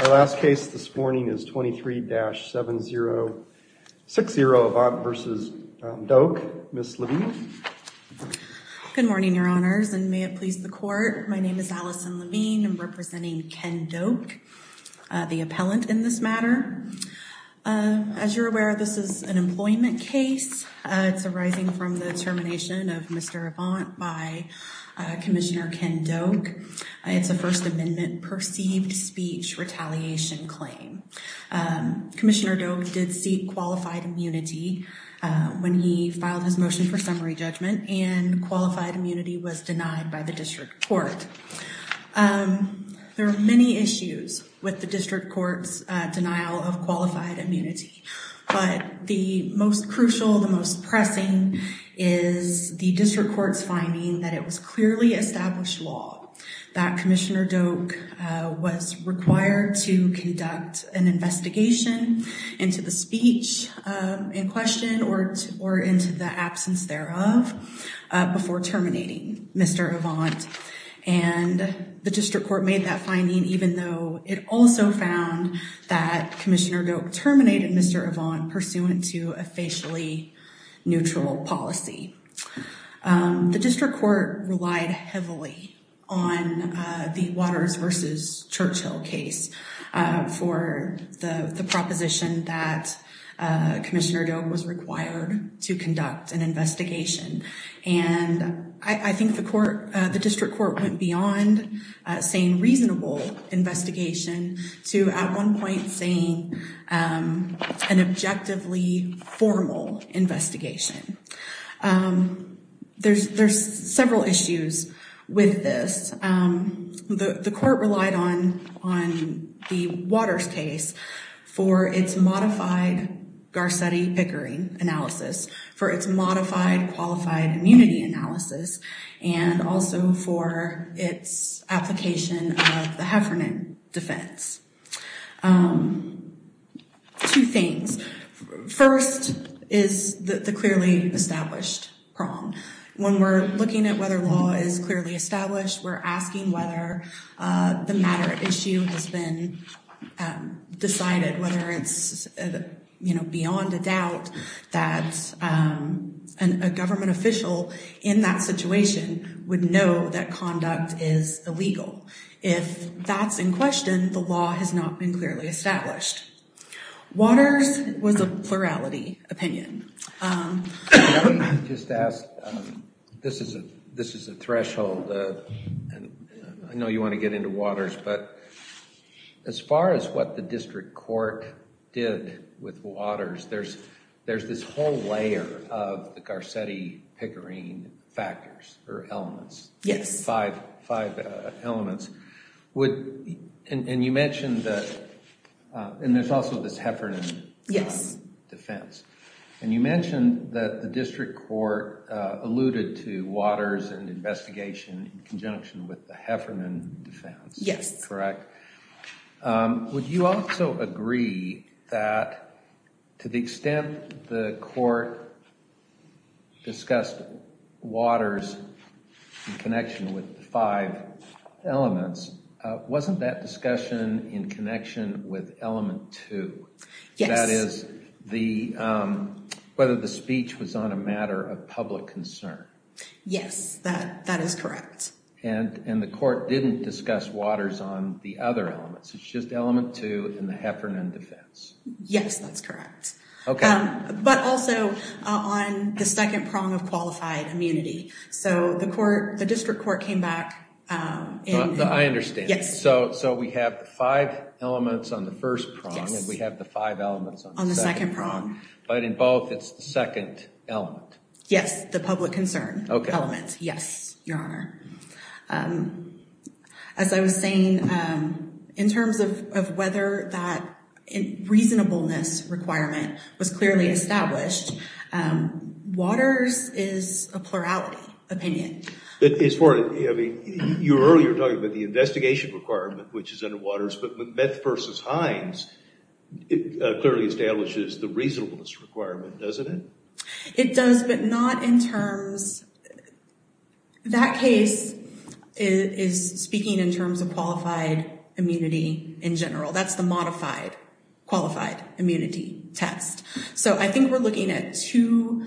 Our last case this morning is 23-7060 Avant v. Doke. Ms. Levine? Good morning, your honors, and may it please the court. My name is Allison Levine. I'm representing Ken Doke, the appellant in this matter. As you're aware, this is an employment case. It's arising from the termination of Mr. Avant by Commissioner Ken Doke. It's a First Amendment perceived speech retaliation claim. Commissioner Doke did seek qualified immunity when he filed his motion for summary judgment, and qualified immunity was denied by the district court. There are many issues with the district court's denial of qualified immunity, but the most crucial, the most pressing, is the district court's finding that it was clearly established law that Commissioner Doke was required to conduct an investigation into the speech in question or into the absence thereof before terminating Mr. Avant. And the district court made that finding even though it also found that Commissioner Doke terminated Mr. Avant pursuant to a facially neutral policy. The district court relied heavily on the Waters v. Churchill case for the proposition that Commissioner Doke was required to conduct an investigation. And I think the court, the district court, went beyond saying reasonable investigation to at one point saying an objectively formal investigation. There's several issues with this. The court relied on the Waters case for its modified Garcetti-Pickering analysis, for its modified qualified immunity analysis, and also for its application of the Heffernan defense. Two things. First is the clearly established prong. When we're looking at whether law is clearly established, we're asking whether the matter at issue has been decided, whether it's, you know, beyond a doubt that a government official in that situation would know that conduct is illegal. If that's in question, the law has not been clearly established. Waters was a plurality opinion. Just to ask, this is a threshold. I know you want to get into Waters, but as far as what the district court did with Waters, there's this whole layer of the Garcetti-Pickering factors or elements. Yes. Five elements. And you mentioned that, and there's also this Heffernan defense. Yes. And you mentioned that the district court alluded to Waters and investigation in conjunction with the Heffernan defense. Yes. Correct. Would you also agree that to the extent the court discussed Waters in connection with the five elements, wasn't that discussion in connection with element two? Yes. That is, whether the speech was on a matter of public concern. Yes, that is correct. And the court didn't discuss Waters on the other elements. It's just element two and the Heffernan defense. Yes, that's correct. Okay. But also on the second prong of qualified immunity. So the court, the district court came back. I understand. Yes. So we have the five elements on the first prong and we have the five elements on the second prong. On the second prong. Yes, the public concern element. Okay. Yes, Your Honor. As I was saying, in terms of whether that reasonableness requirement was clearly established, Waters is a plurality opinion. As far as, I mean, you were earlier talking about the investigation requirement, which is under Waters. But with Beth versus Hines, it clearly establishes the reasonableness requirement, doesn't it? It does, but not in terms. That case is speaking in terms of qualified immunity in general. That's the modified qualified immunity test. So I think we're looking at two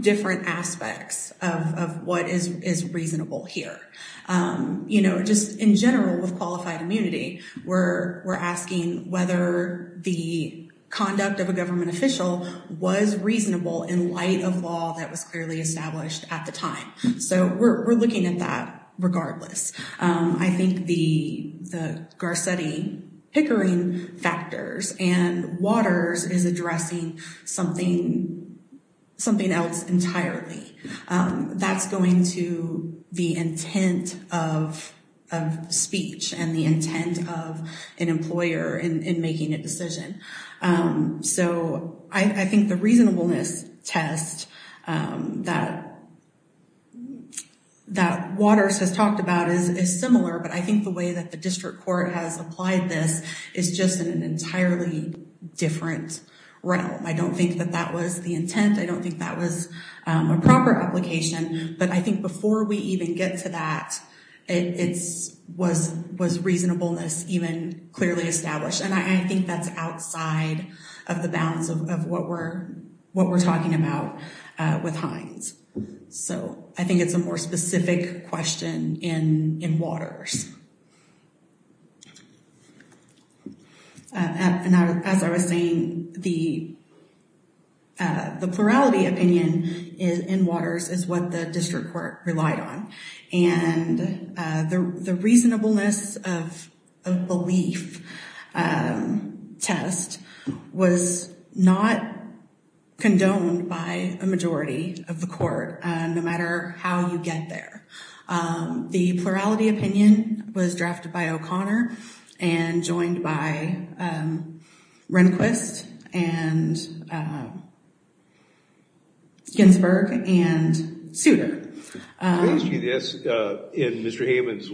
different aspects of what is reasonable here. Just in general with qualified immunity, we're asking whether the conduct of a government official was reasonable in light of law that was clearly established at the time. So we're looking at that regardless. I think the Garcetti-Hickering factors and Waters is addressing something else entirely. That's going to be intent of speech and the intent of an employer in making a decision. So I think the reasonableness test that Waters has talked about is similar. But I think the way that the district court has applied this is just in an entirely different realm. I don't think that that was the intent. I don't think that was a proper application. But I think before we even get to that, was reasonableness even clearly established? And I think that's outside of the balance of what we're talking about with Hines. So I think it's a more specific question in Waters. And as I was saying, the plurality opinion in Waters is what the district court relied on. And the reasonableness of belief test was not condoned by a majority of the court, no matter how you get there. The plurality opinion was drafted by O'Connor and joined by Rehnquist and Ginsburg and Souter. Mr. Hammonds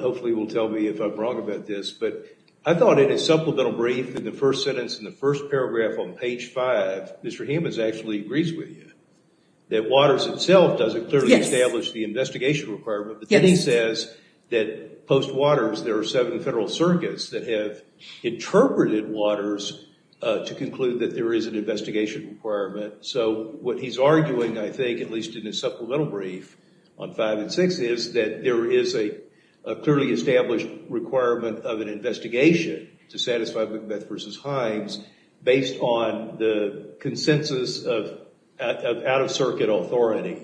hopefully will tell me if I'm wrong about this, but I thought in a supplemental brief in the first sentence in the first paragraph on page five, Mr. Hammonds actually agrees with you, that Waters itself doesn't clearly establish the investigation requirement. But then he says that post-Waters, there are seven federal circuits that have interpreted Waters to conclude that there is an investigation requirement. So what he's arguing, I think, at least in his supplemental brief on five and six, is that there is a clearly established requirement of an investigation to satisfy Macbeth v. Hines, based on the consensus of out-of-circuit authority.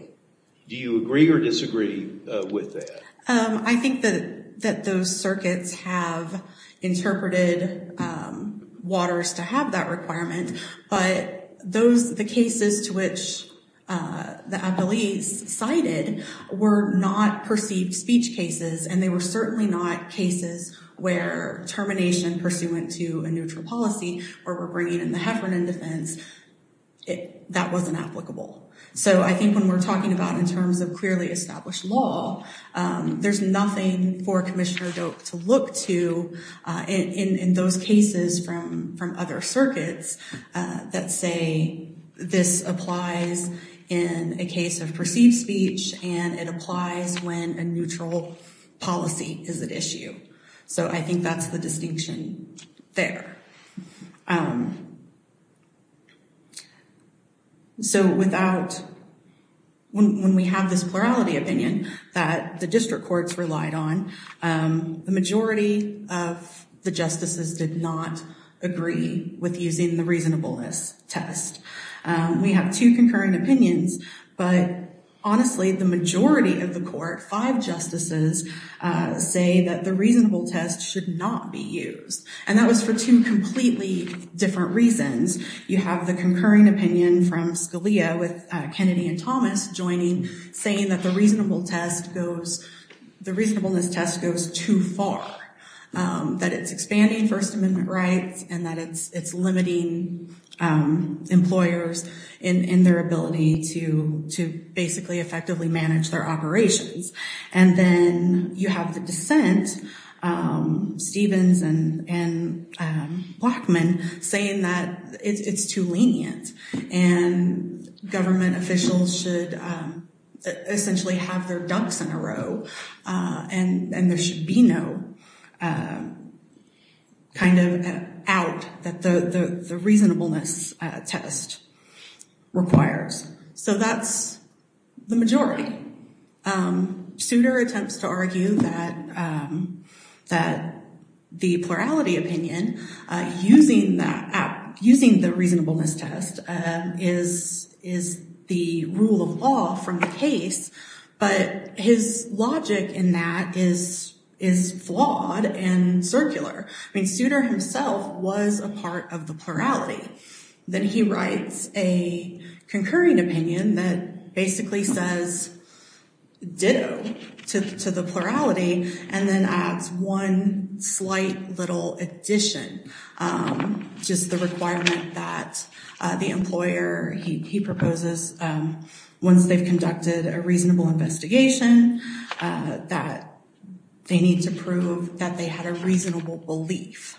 Do you agree or disagree with that? I think that those circuits have interpreted Waters to have that requirement. But the cases to which the appellees cited were not perceived speech cases, and they were certainly not cases where termination pursuant to a neutral policy or were bringing in the Heffernan defense. That wasn't applicable. So I think when we're talking about in terms of clearly established law, there's nothing for Commissioner Doak to look to in those cases from other circuits that say this applies in a case of perceived speech, and it applies when a neutral policy is at issue. So I think that's the distinction there. So when we have this plurality opinion that the district courts relied on, the majority of the justices did not agree with using the reasonableness test. We have two concurring opinions, but honestly, the majority of the court, five justices, say that the reasonableness test should not be used. And that was for two completely different reasons. You have the concurring opinion from Scalia with Kennedy and Thomas joining, saying that the reasonableness test goes too far, that it's expanding First Amendment rights, and that it's limiting employers in their ability to basically effectively manage their operations. And then you have the dissent, Stevens and Blockman, saying that it's too lenient and government officials should essentially have their dunks in a row and there should be no kind of out that the reasonableness test requires. So that's the majority. Souter attempts to argue that the plurality opinion, using the reasonableness test, is the rule of law from the case, but his logic in that is flawed and circular. I mean, Souter himself was a part of the plurality. Then he writes a concurring opinion that basically says ditto to the plurality and then adds one slight little addition, just the requirement that the employer, he proposes once they've conducted a reasonable investigation, that they need to prove that they had a reasonable belief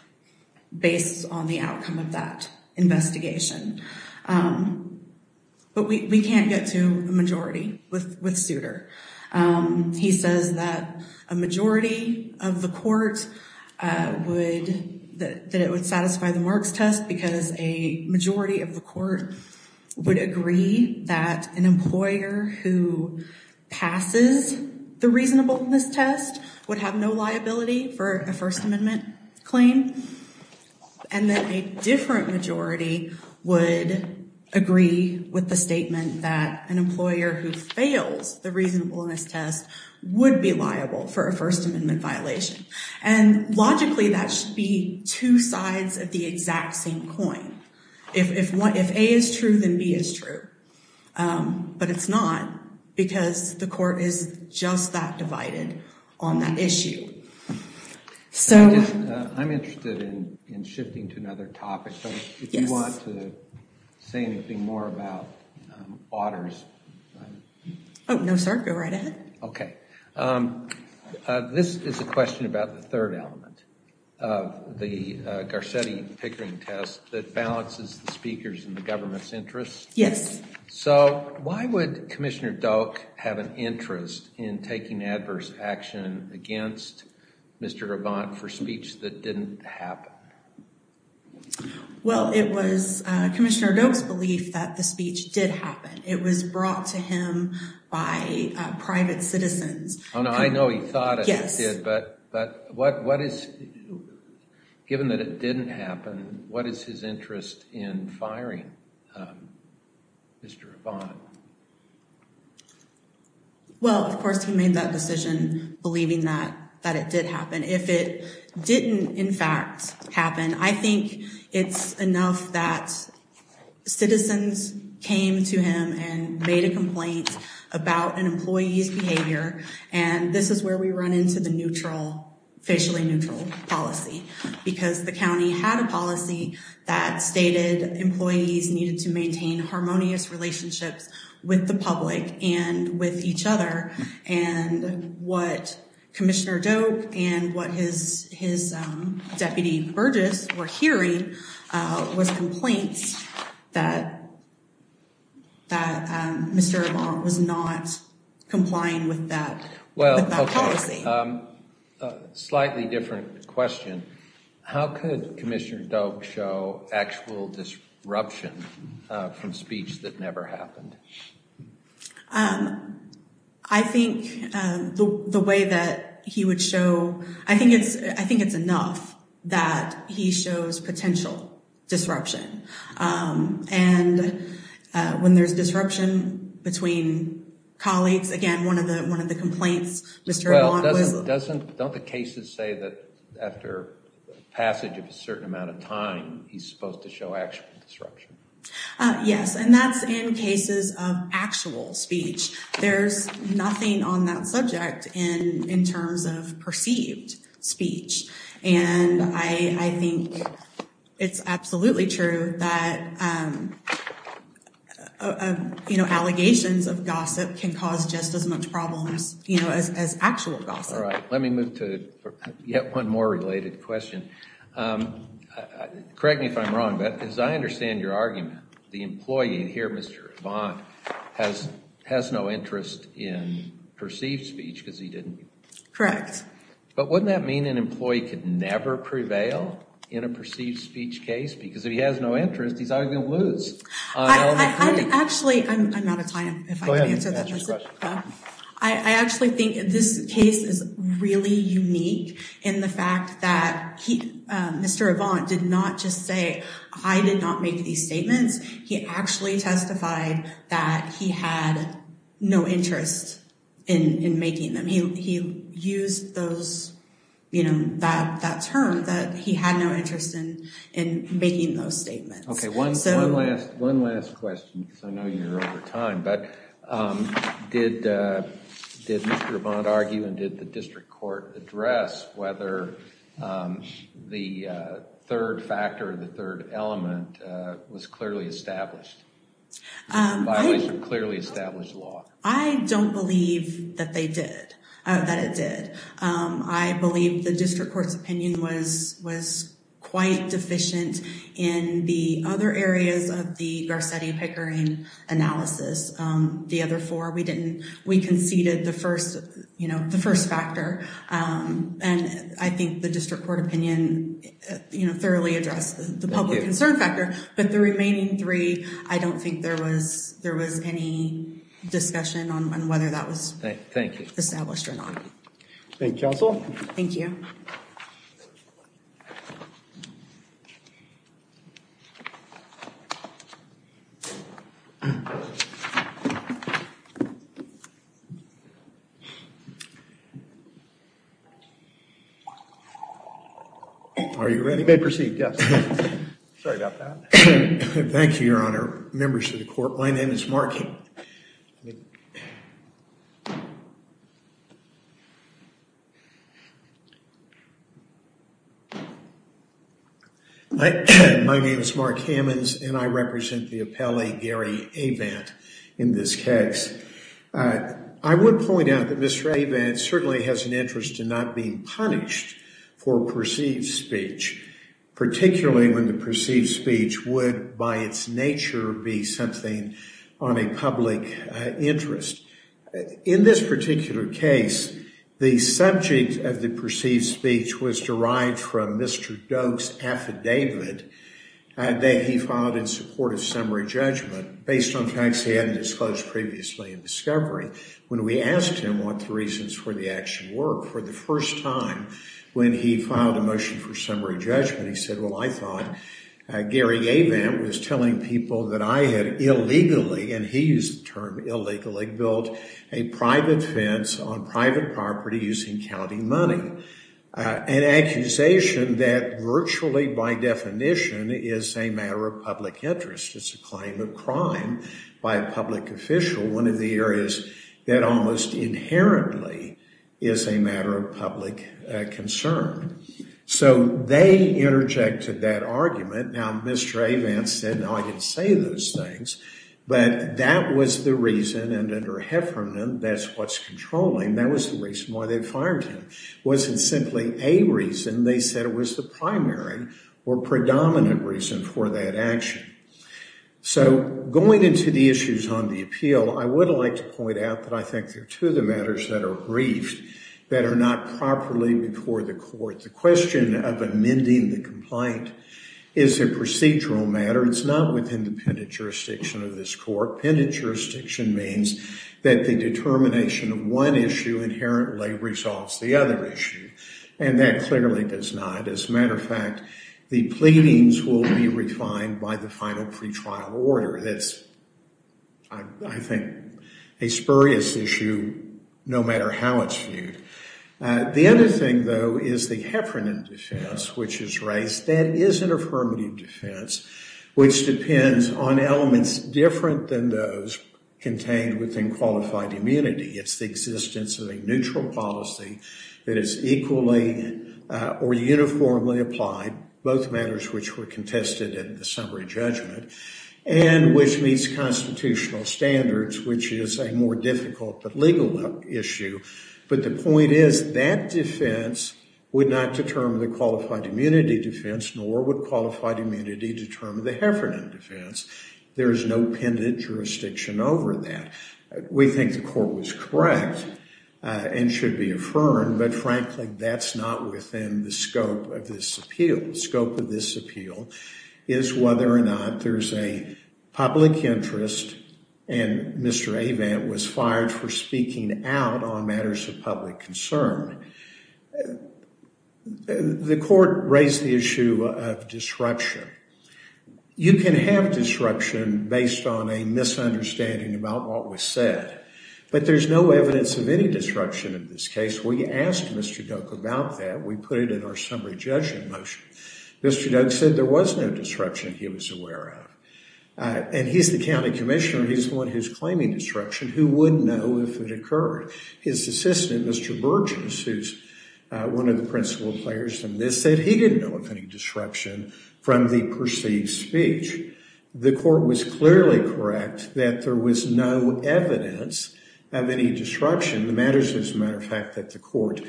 based on the outcome of that investigation. But we can't get to a majority with Souter. He says that a majority of the court would, that it would satisfy the Marx test because a majority of the court would agree that an employer who passes the reasonableness test would have no liability for a First Amendment claim. And then a different majority would agree with the statement that an employer who fails the reasonableness test would be liable for a First Amendment violation. And logically, that should be two sides of the exact same coin. If A is true, then B is true. But it's not because the court is just that divided on that issue. So... I'm interested in shifting to another topic. So if you want to say anything more about Otter's... Oh, no, sir. Go right ahead. Okay. This is a question about the third element of the Garcetti Pickering test that balances the speakers and the government's interests. Yes. So why would Commissioner Doak have an interest in taking adverse action against Mr. Rabant for speech that didn't happen? Well, it was Commissioner Doak's belief that the speech did happen. It was brought to him by private citizens. Oh, no, I know he thought it did. But what is... Given that it didn't happen, what is his interest in firing Mr. Rabant? Well, of course, he made that decision believing that it did happen. If it didn't, in fact, happen, I think it's enough that citizens came to him and made a complaint about an employee's behavior. And this is where we run into the neutral, facially neutral policy. Because the county had a policy that stated employees needed to maintain harmonious relationships with the public and with each other. And what Commissioner Doak and what his deputy Burgess were hearing was complaints that Mr. Rabant was not complying with that policy. Slightly different question. How could Commissioner Doak show actual disruption from speech that never happened? I think the way that he would show... I think it's enough that he shows potential disruption. And when there's disruption between colleagues, again, one of the complaints Mr. Rabant was... Well, don't the cases say that after passage of a certain amount of time, he's supposed to show actual disruption? Yes, and that's in cases of actual speech. There's nothing on that subject in terms of perceived speech. And I think it's absolutely true that allegations of gossip can cause just as much problems as actual gossip. All right, let me move to yet one more related question. Correct me if I'm wrong, but as I understand your argument, the employee here, Mr. Rabant, has no interest in perceived speech because he didn't... Correct. But wouldn't that mean an employee could never prevail in a perceived speech case? Because if he has no interest, he's not even going to lose. Actually, I'm out of time. Go ahead and ask your question. I actually think this case is really unique in the fact that Mr. Rabant did not just say, I did not make these statements. He actually testified that he had no interest in making them. He used that term that he had no interest in making those statements. Okay, one last question because I know you're over time, but did Mr. Rabant argue and did the district court address whether the third factor, the third element was clearly established? Violation of clearly established law. I don't believe that they did, that it did. I believe the district court's opinion was quite deficient in the other areas of the Garcetti-Pickering analysis. The other four, we conceded the first factor, and I think the district court opinion thoroughly addressed the public concern factor, but the remaining three, I don't think there was any discussion on whether that was established or not. Thank you, counsel. Thank you. Are you ready? You may proceed, yes. Thank you, Your Honor. Members of the court, my name is Mark. My name is Mark Hammons, and I represent the appellee, Gary Abant, in this case. I would point out that Mr. Abant certainly has an interest in not being punished for perceived speech, particularly when the perceived speech would, by its nature, be something on a public interest. In this particular case, the subject of the perceived speech was derived from Mr. Doak's affidavit that he filed in support of summary judgment, based on facts he hadn't disclosed previously in discovery. When we asked him what the reasons for the action were for the first time when he filed a motion for summary judgment, he said, well, I thought Gary Abant was telling people that I had illegally, and he used the term illegally, built a private fence on private property using county money, an accusation that virtually by definition is a matter of public interest. It's a claim of crime by a public official. One of the areas that almost inherently is a matter of public concern. So they interjected that argument. Now, Mr. Abant said, no, I didn't say those things, but that was the reason, and under Heffernan, that's what's controlling. That was the reason why they fired him. It wasn't simply a reason. They said it was the primary or predominant reason for that action. So going into the issues on the appeal, I would like to point out that I think there are two of the matters that are briefed that are not properly before the court. The question of amending the complaint is a procedural matter. It's not within the pendant jurisdiction of this court. Pendant jurisdiction means that the determination of one issue inherently resolves the other issue, and that clearly does not. As a matter of fact, the pleadings will be refined by the final pretrial order. That's, I think, a spurious issue no matter how it's viewed. The other thing, though, is the Heffernan defense, which is raised. That is an affirmative defense, which depends on elements different than those contained within qualified immunity. It's the existence of a neutral policy that is equally or uniformly applied, both matters which were contested in the summary judgment, and which meets constitutional standards, which is a more difficult but legal issue. But the point is that defense would not determine the qualified immunity defense, nor would qualified immunity determine the Heffernan defense. There is no pendant jurisdiction over that. We think the court was correct and should be affirmed, but frankly, that's not within the scope of this appeal. The scope of this appeal is whether or not there's a public interest, and Mr. Avant was fired for speaking out on matters of public concern. The court raised the issue of disruption. You can have disruption based on a misunderstanding about what was said, but there's no evidence of any disruption in this case. We asked Mr. Duke about that. We put it in our summary judgment motion. Mr. Duke said there was no disruption he was aware of, and he's the county commissioner. He's the one who's claiming disruption. Who would know if it occurred? His assistant, Mr. Burgess, who's one of the principal players in this, said he didn't know of any disruption from the perceived speech. The court was clearly correct that there was no evidence of any disruption. The matters, as a matter of fact, that the court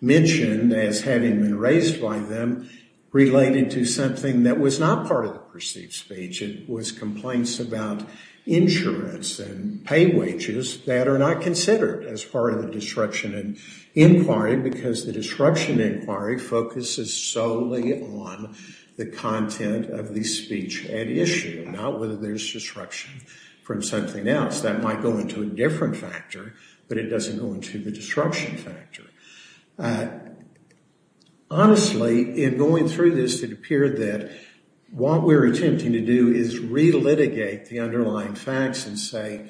mentioned as having been raised by them related to something that was not part of the perceived speech. It was complaints about insurance and pay wages that are not considered as part of the disruption inquiry because the disruption inquiry focuses solely on the content of the speech at issue, not whether there's disruption from something else. That might go into a different factor, but it doesn't go into the disruption factor. Honestly, in going through this, it appeared that what we're attempting to do is relitigate the underlying facts and say,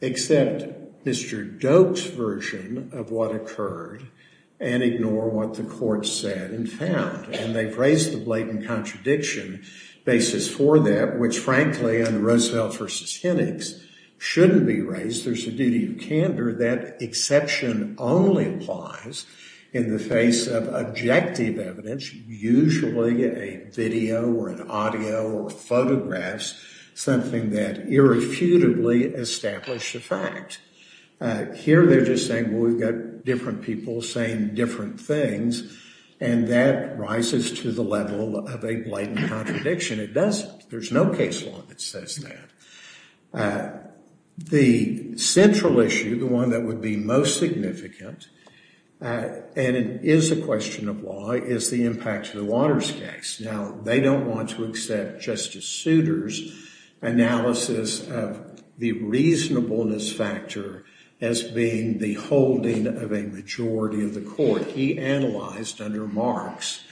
accept Mr. Doak's version of what occurred and ignore what the court said and found. And they've raised the blatant contradiction basis for that, which, frankly, under Roosevelt v. Hennig's, shouldn't be raised. There's a duty of candor that exception only applies in the face of objective evidence, usually a video or an audio or photographs, something that irrefutably established the fact. Here, they're just saying, well, we've got different people saying different things, and that rises to the level of a blatant contradiction. It doesn't. There's no case law that says that. The central issue, the one that would be most significant, and it is a question of law, is the impact of the Waters case. Now, they don't want to accept Justice Souter's analysis of the reasonableness factor as being the holding of a majority of the court. He analyzed under Marx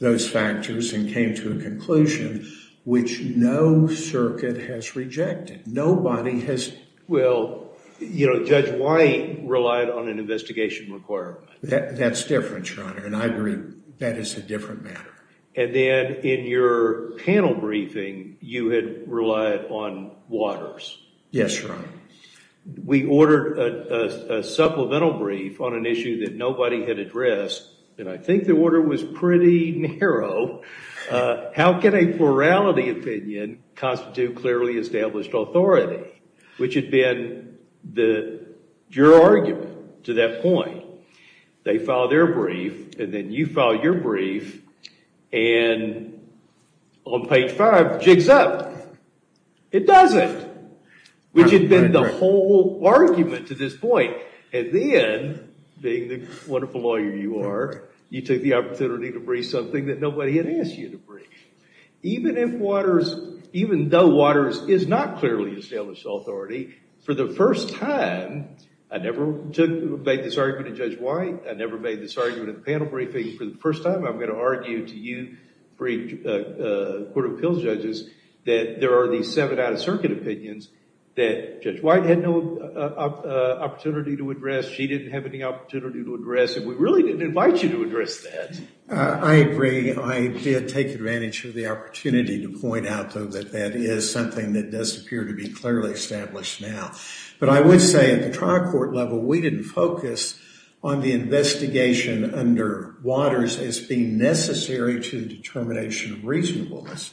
those factors and came to a conclusion which no circuit has rejected. Nobody has. Well, Judge White relied on an investigation requirement. That's different, Your Honor, and I agree that is a different matter. And then in your panel briefing, you had relied on Waters. Yes, Your Honor. We ordered a supplemental brief on an issue that nobody had addressed, and I think the order was pretty narrow. How can a plurality opinion constitute clearly established authority, which had been your argument to that point? They filed their brief, and then you filed your brief, and on page five, jigs up. It doesn't, which had been the whole argument to this point. And then, being the wonderful lawyer you are, you took the opportunity to brief something that nobody had asked you to brief. Even if Waters, even though Waters is not clearly established authority, for the first time, I never made this argument in Judge White. I never made this argument in the panel briefing. For the first time, I'm going to argue to you, court of appeals judges, that there are these seven out-of-circuit opinions that Judge White had no opportunity to address. She didn't have any opportunity to address, and we really didn't invite you to address that. I agree. I did take advantage of the opportunity to point out, though, that that is something that does appear to be clearly established now. But I would say, at the trial court level, we didn't focus on the investigation under Waters as being necessary to the determination of reasonableness.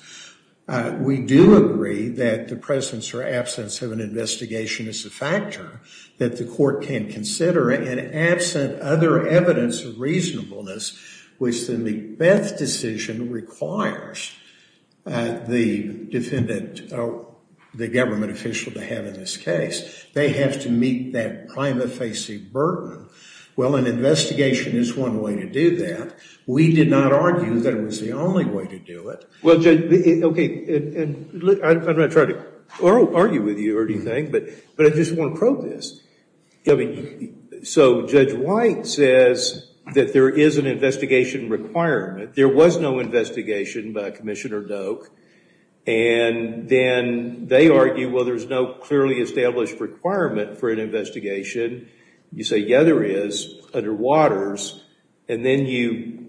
We do agree that the presence or absence of an investigation is a factor that the court can consider, and absent other evidence of reasonableness, which the Macbeth decision requires the defendant, the government official, to have in this case. They have to meet that prima facie burden. Well, an investigation is one way to do that. We did not argue that it was the only way to do it. Well, Judge, okay, and I'm not trying to argue with you or anything, but I just want to probe this. So Judge White says that there is an investigation requirement. There was no investigation by Commissioner Doak, and then they argue, well, there's no clearly established requirement for an investigation. You say, yeah, there is, under Waters, and then you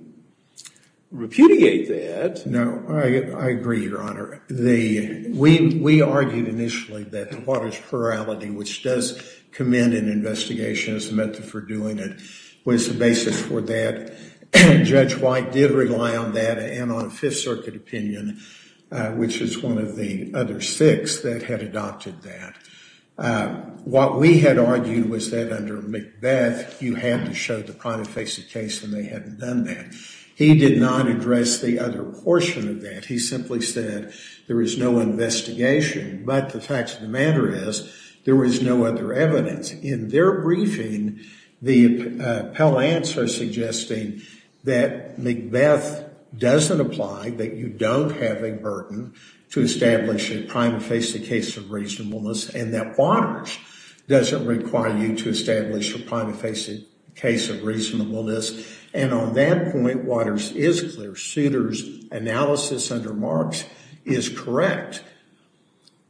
repudiate that. No, I agree, Your Honor. We argued initially that the Waters plurality, which does commend an investigation as a method for doing it, was the basis for that. Judge White did rely on that and on Fifth Circuit opinion, which is one of the other six that had adopted that. What we had argued was that under Macbeth, you had to show the prima facie case, and they hadn't done that. He did not address the other portion of that. He simply said there is no investigation, but the fact of the matter is there was no other evidence. In their briefing, the appellants are suggesting that Macbeth doesn't apply, that you don't have a burden to establish a prima facie case of reasonableness, and that Waters doesn't require you to establish a prima facie case of reasonableness, and on that point, Waters is clear. Souter's analysis under Marx is correct.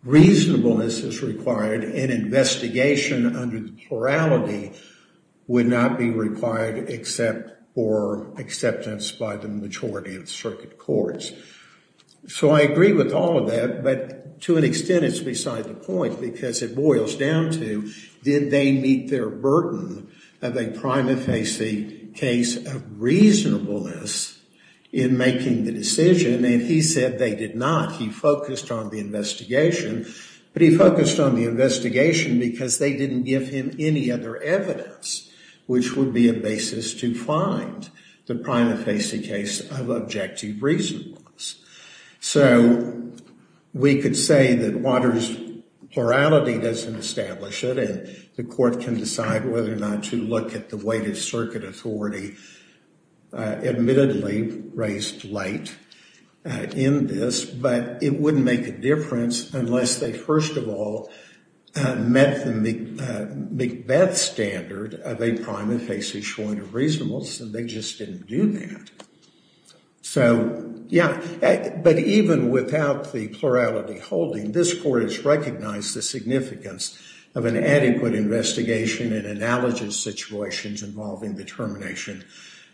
Reasonableness is required, and investigation under the plurality would not be required except for acceptance by the majority of the circuit courts. So I agree with all of that, but to an extent, it's beside the point, because it boils down to, did they meet their burden of a prima facie case of reasonableness in making the decision? And he said they did not. He focused on the investigation, but he focused on the investigation because they didn't give him any other evidence, which would be a basis to find the prima facie case of objective reasonableness. So we could say that Waters' plurality doesn't establish it, and the court can decide whether or not to look at the way the circuit authority admittedly raised light in this, but it wouldn't make a difference unless they, first of all, met the Macbeth standard of a prima facie point of reasonableness, and they just didn't do that. So, yeah, but even without the plurality holding, this court has recognized the significance of an adequate investigation and analogous situations involving the termination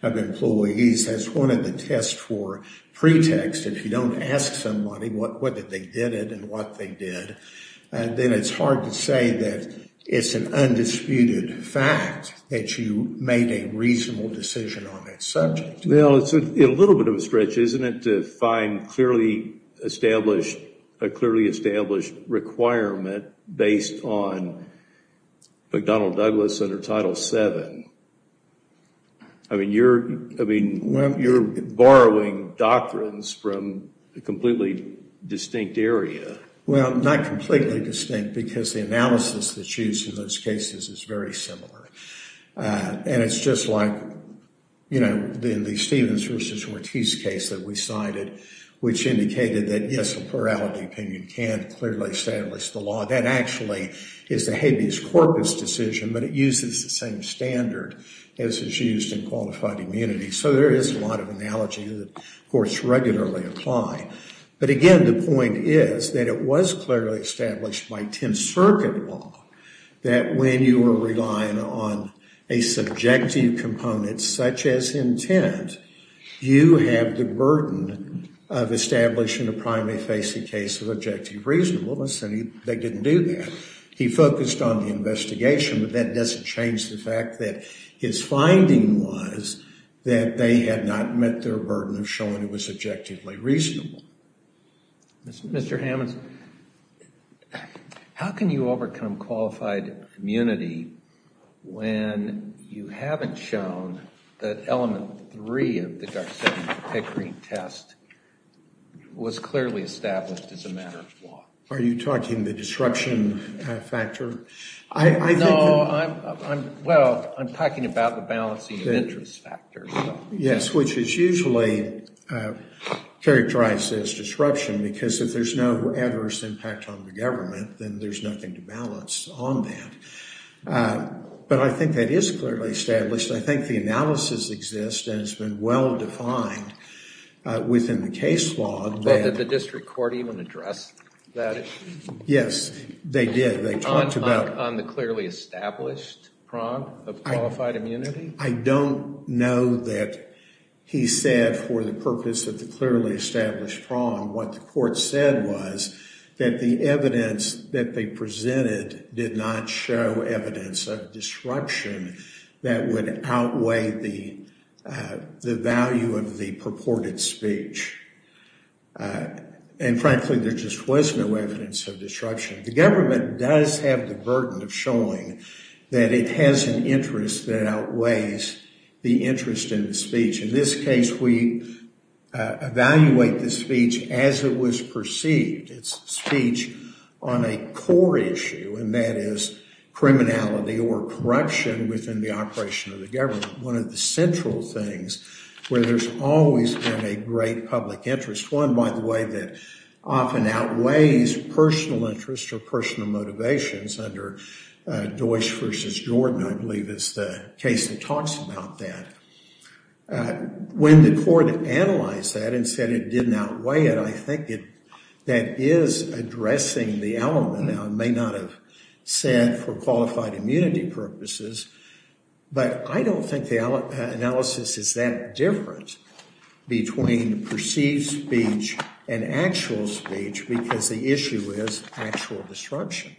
of employees as one of the test for pretext. If you don't ask somebody whether they did it and what they did, then it's hard to say that it's an undisputed fact that you made a reasonable decision on that subject. Well, it's a little bit of a stretch, isn't it, to find a clearly established requirement based on McDonnell Douglas under Title VII? I mean, you're borrowing doctrines from a completely distinct area. Well, not completely distinct because the analysis that's used in those cases is very similar, and it's just like, you know, the Stevens versus Ortiz case that we cited, which indicated that, yes, a plurality opinion can clearly establish the law. That actually is the habeas corpus decision, but it uses the same standard as is used in qualified immunity. So there is a lot of analogy that courts regularly apply. But, again, the point is that it was clearly established by Tenth Circuit law that when you were relying on a subjective component such as intent, you have the burden of establishing a primarily facing case of objective reasonableness, and they didn't do that. He focused on the investigation, but that doesn't change the fact that his finding was that they had not met their burden of showing it was objectively reasonable. Mr. Hammons, how can you overcome qualified immunity when you haven't shown that Element 3 of the Garcetti-Pickering test was clearly established as a matter of law? Are you talking the disruption factor? No, well, I'm talking about the balancing of interest factors. Yes, which is usually characterized as disruption, because if there's no adverse impact on the government, then there's nothing to balance on that. But I think that is clearly established. I think the analysis exists and has been well defined within the case law. Did the district court even address that issue? Yes, they did. On the clearly established prong of qualified immunity? I don't know that he said for the purpose of the clearly established prong. What the court said was that the evidence that they presented did not show evidence of disruption that would outweigh the value of the purported speech. And frankly, there just was no evidence of disruption. The government does have the burden of showing that it has an interest that outweighs the interest in the speech. In this case, we evaluate the speech as it was perceived. It's speech on a core issue, and that is criminality or corruption within the operation of the government. One of the central things where there's always been a great public interest, one, by the way, that often outweighs personal interests or personal motivations under Deutch v. Jordan, I believe is the case that talks about that. When the court analyzed that and said it didn't outweigh it, I think that is addressing the element that I may not have said for qualified immunity purposes. But I don't think the analysis is that different between perceived speech and actual speech because the issue is actual disruption.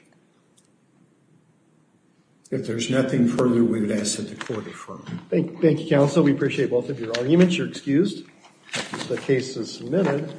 If there's nothing further, we would ask that the court affirm. Thank you, counsel. We appreciate both of your arguments. You're excused. The case is submitted.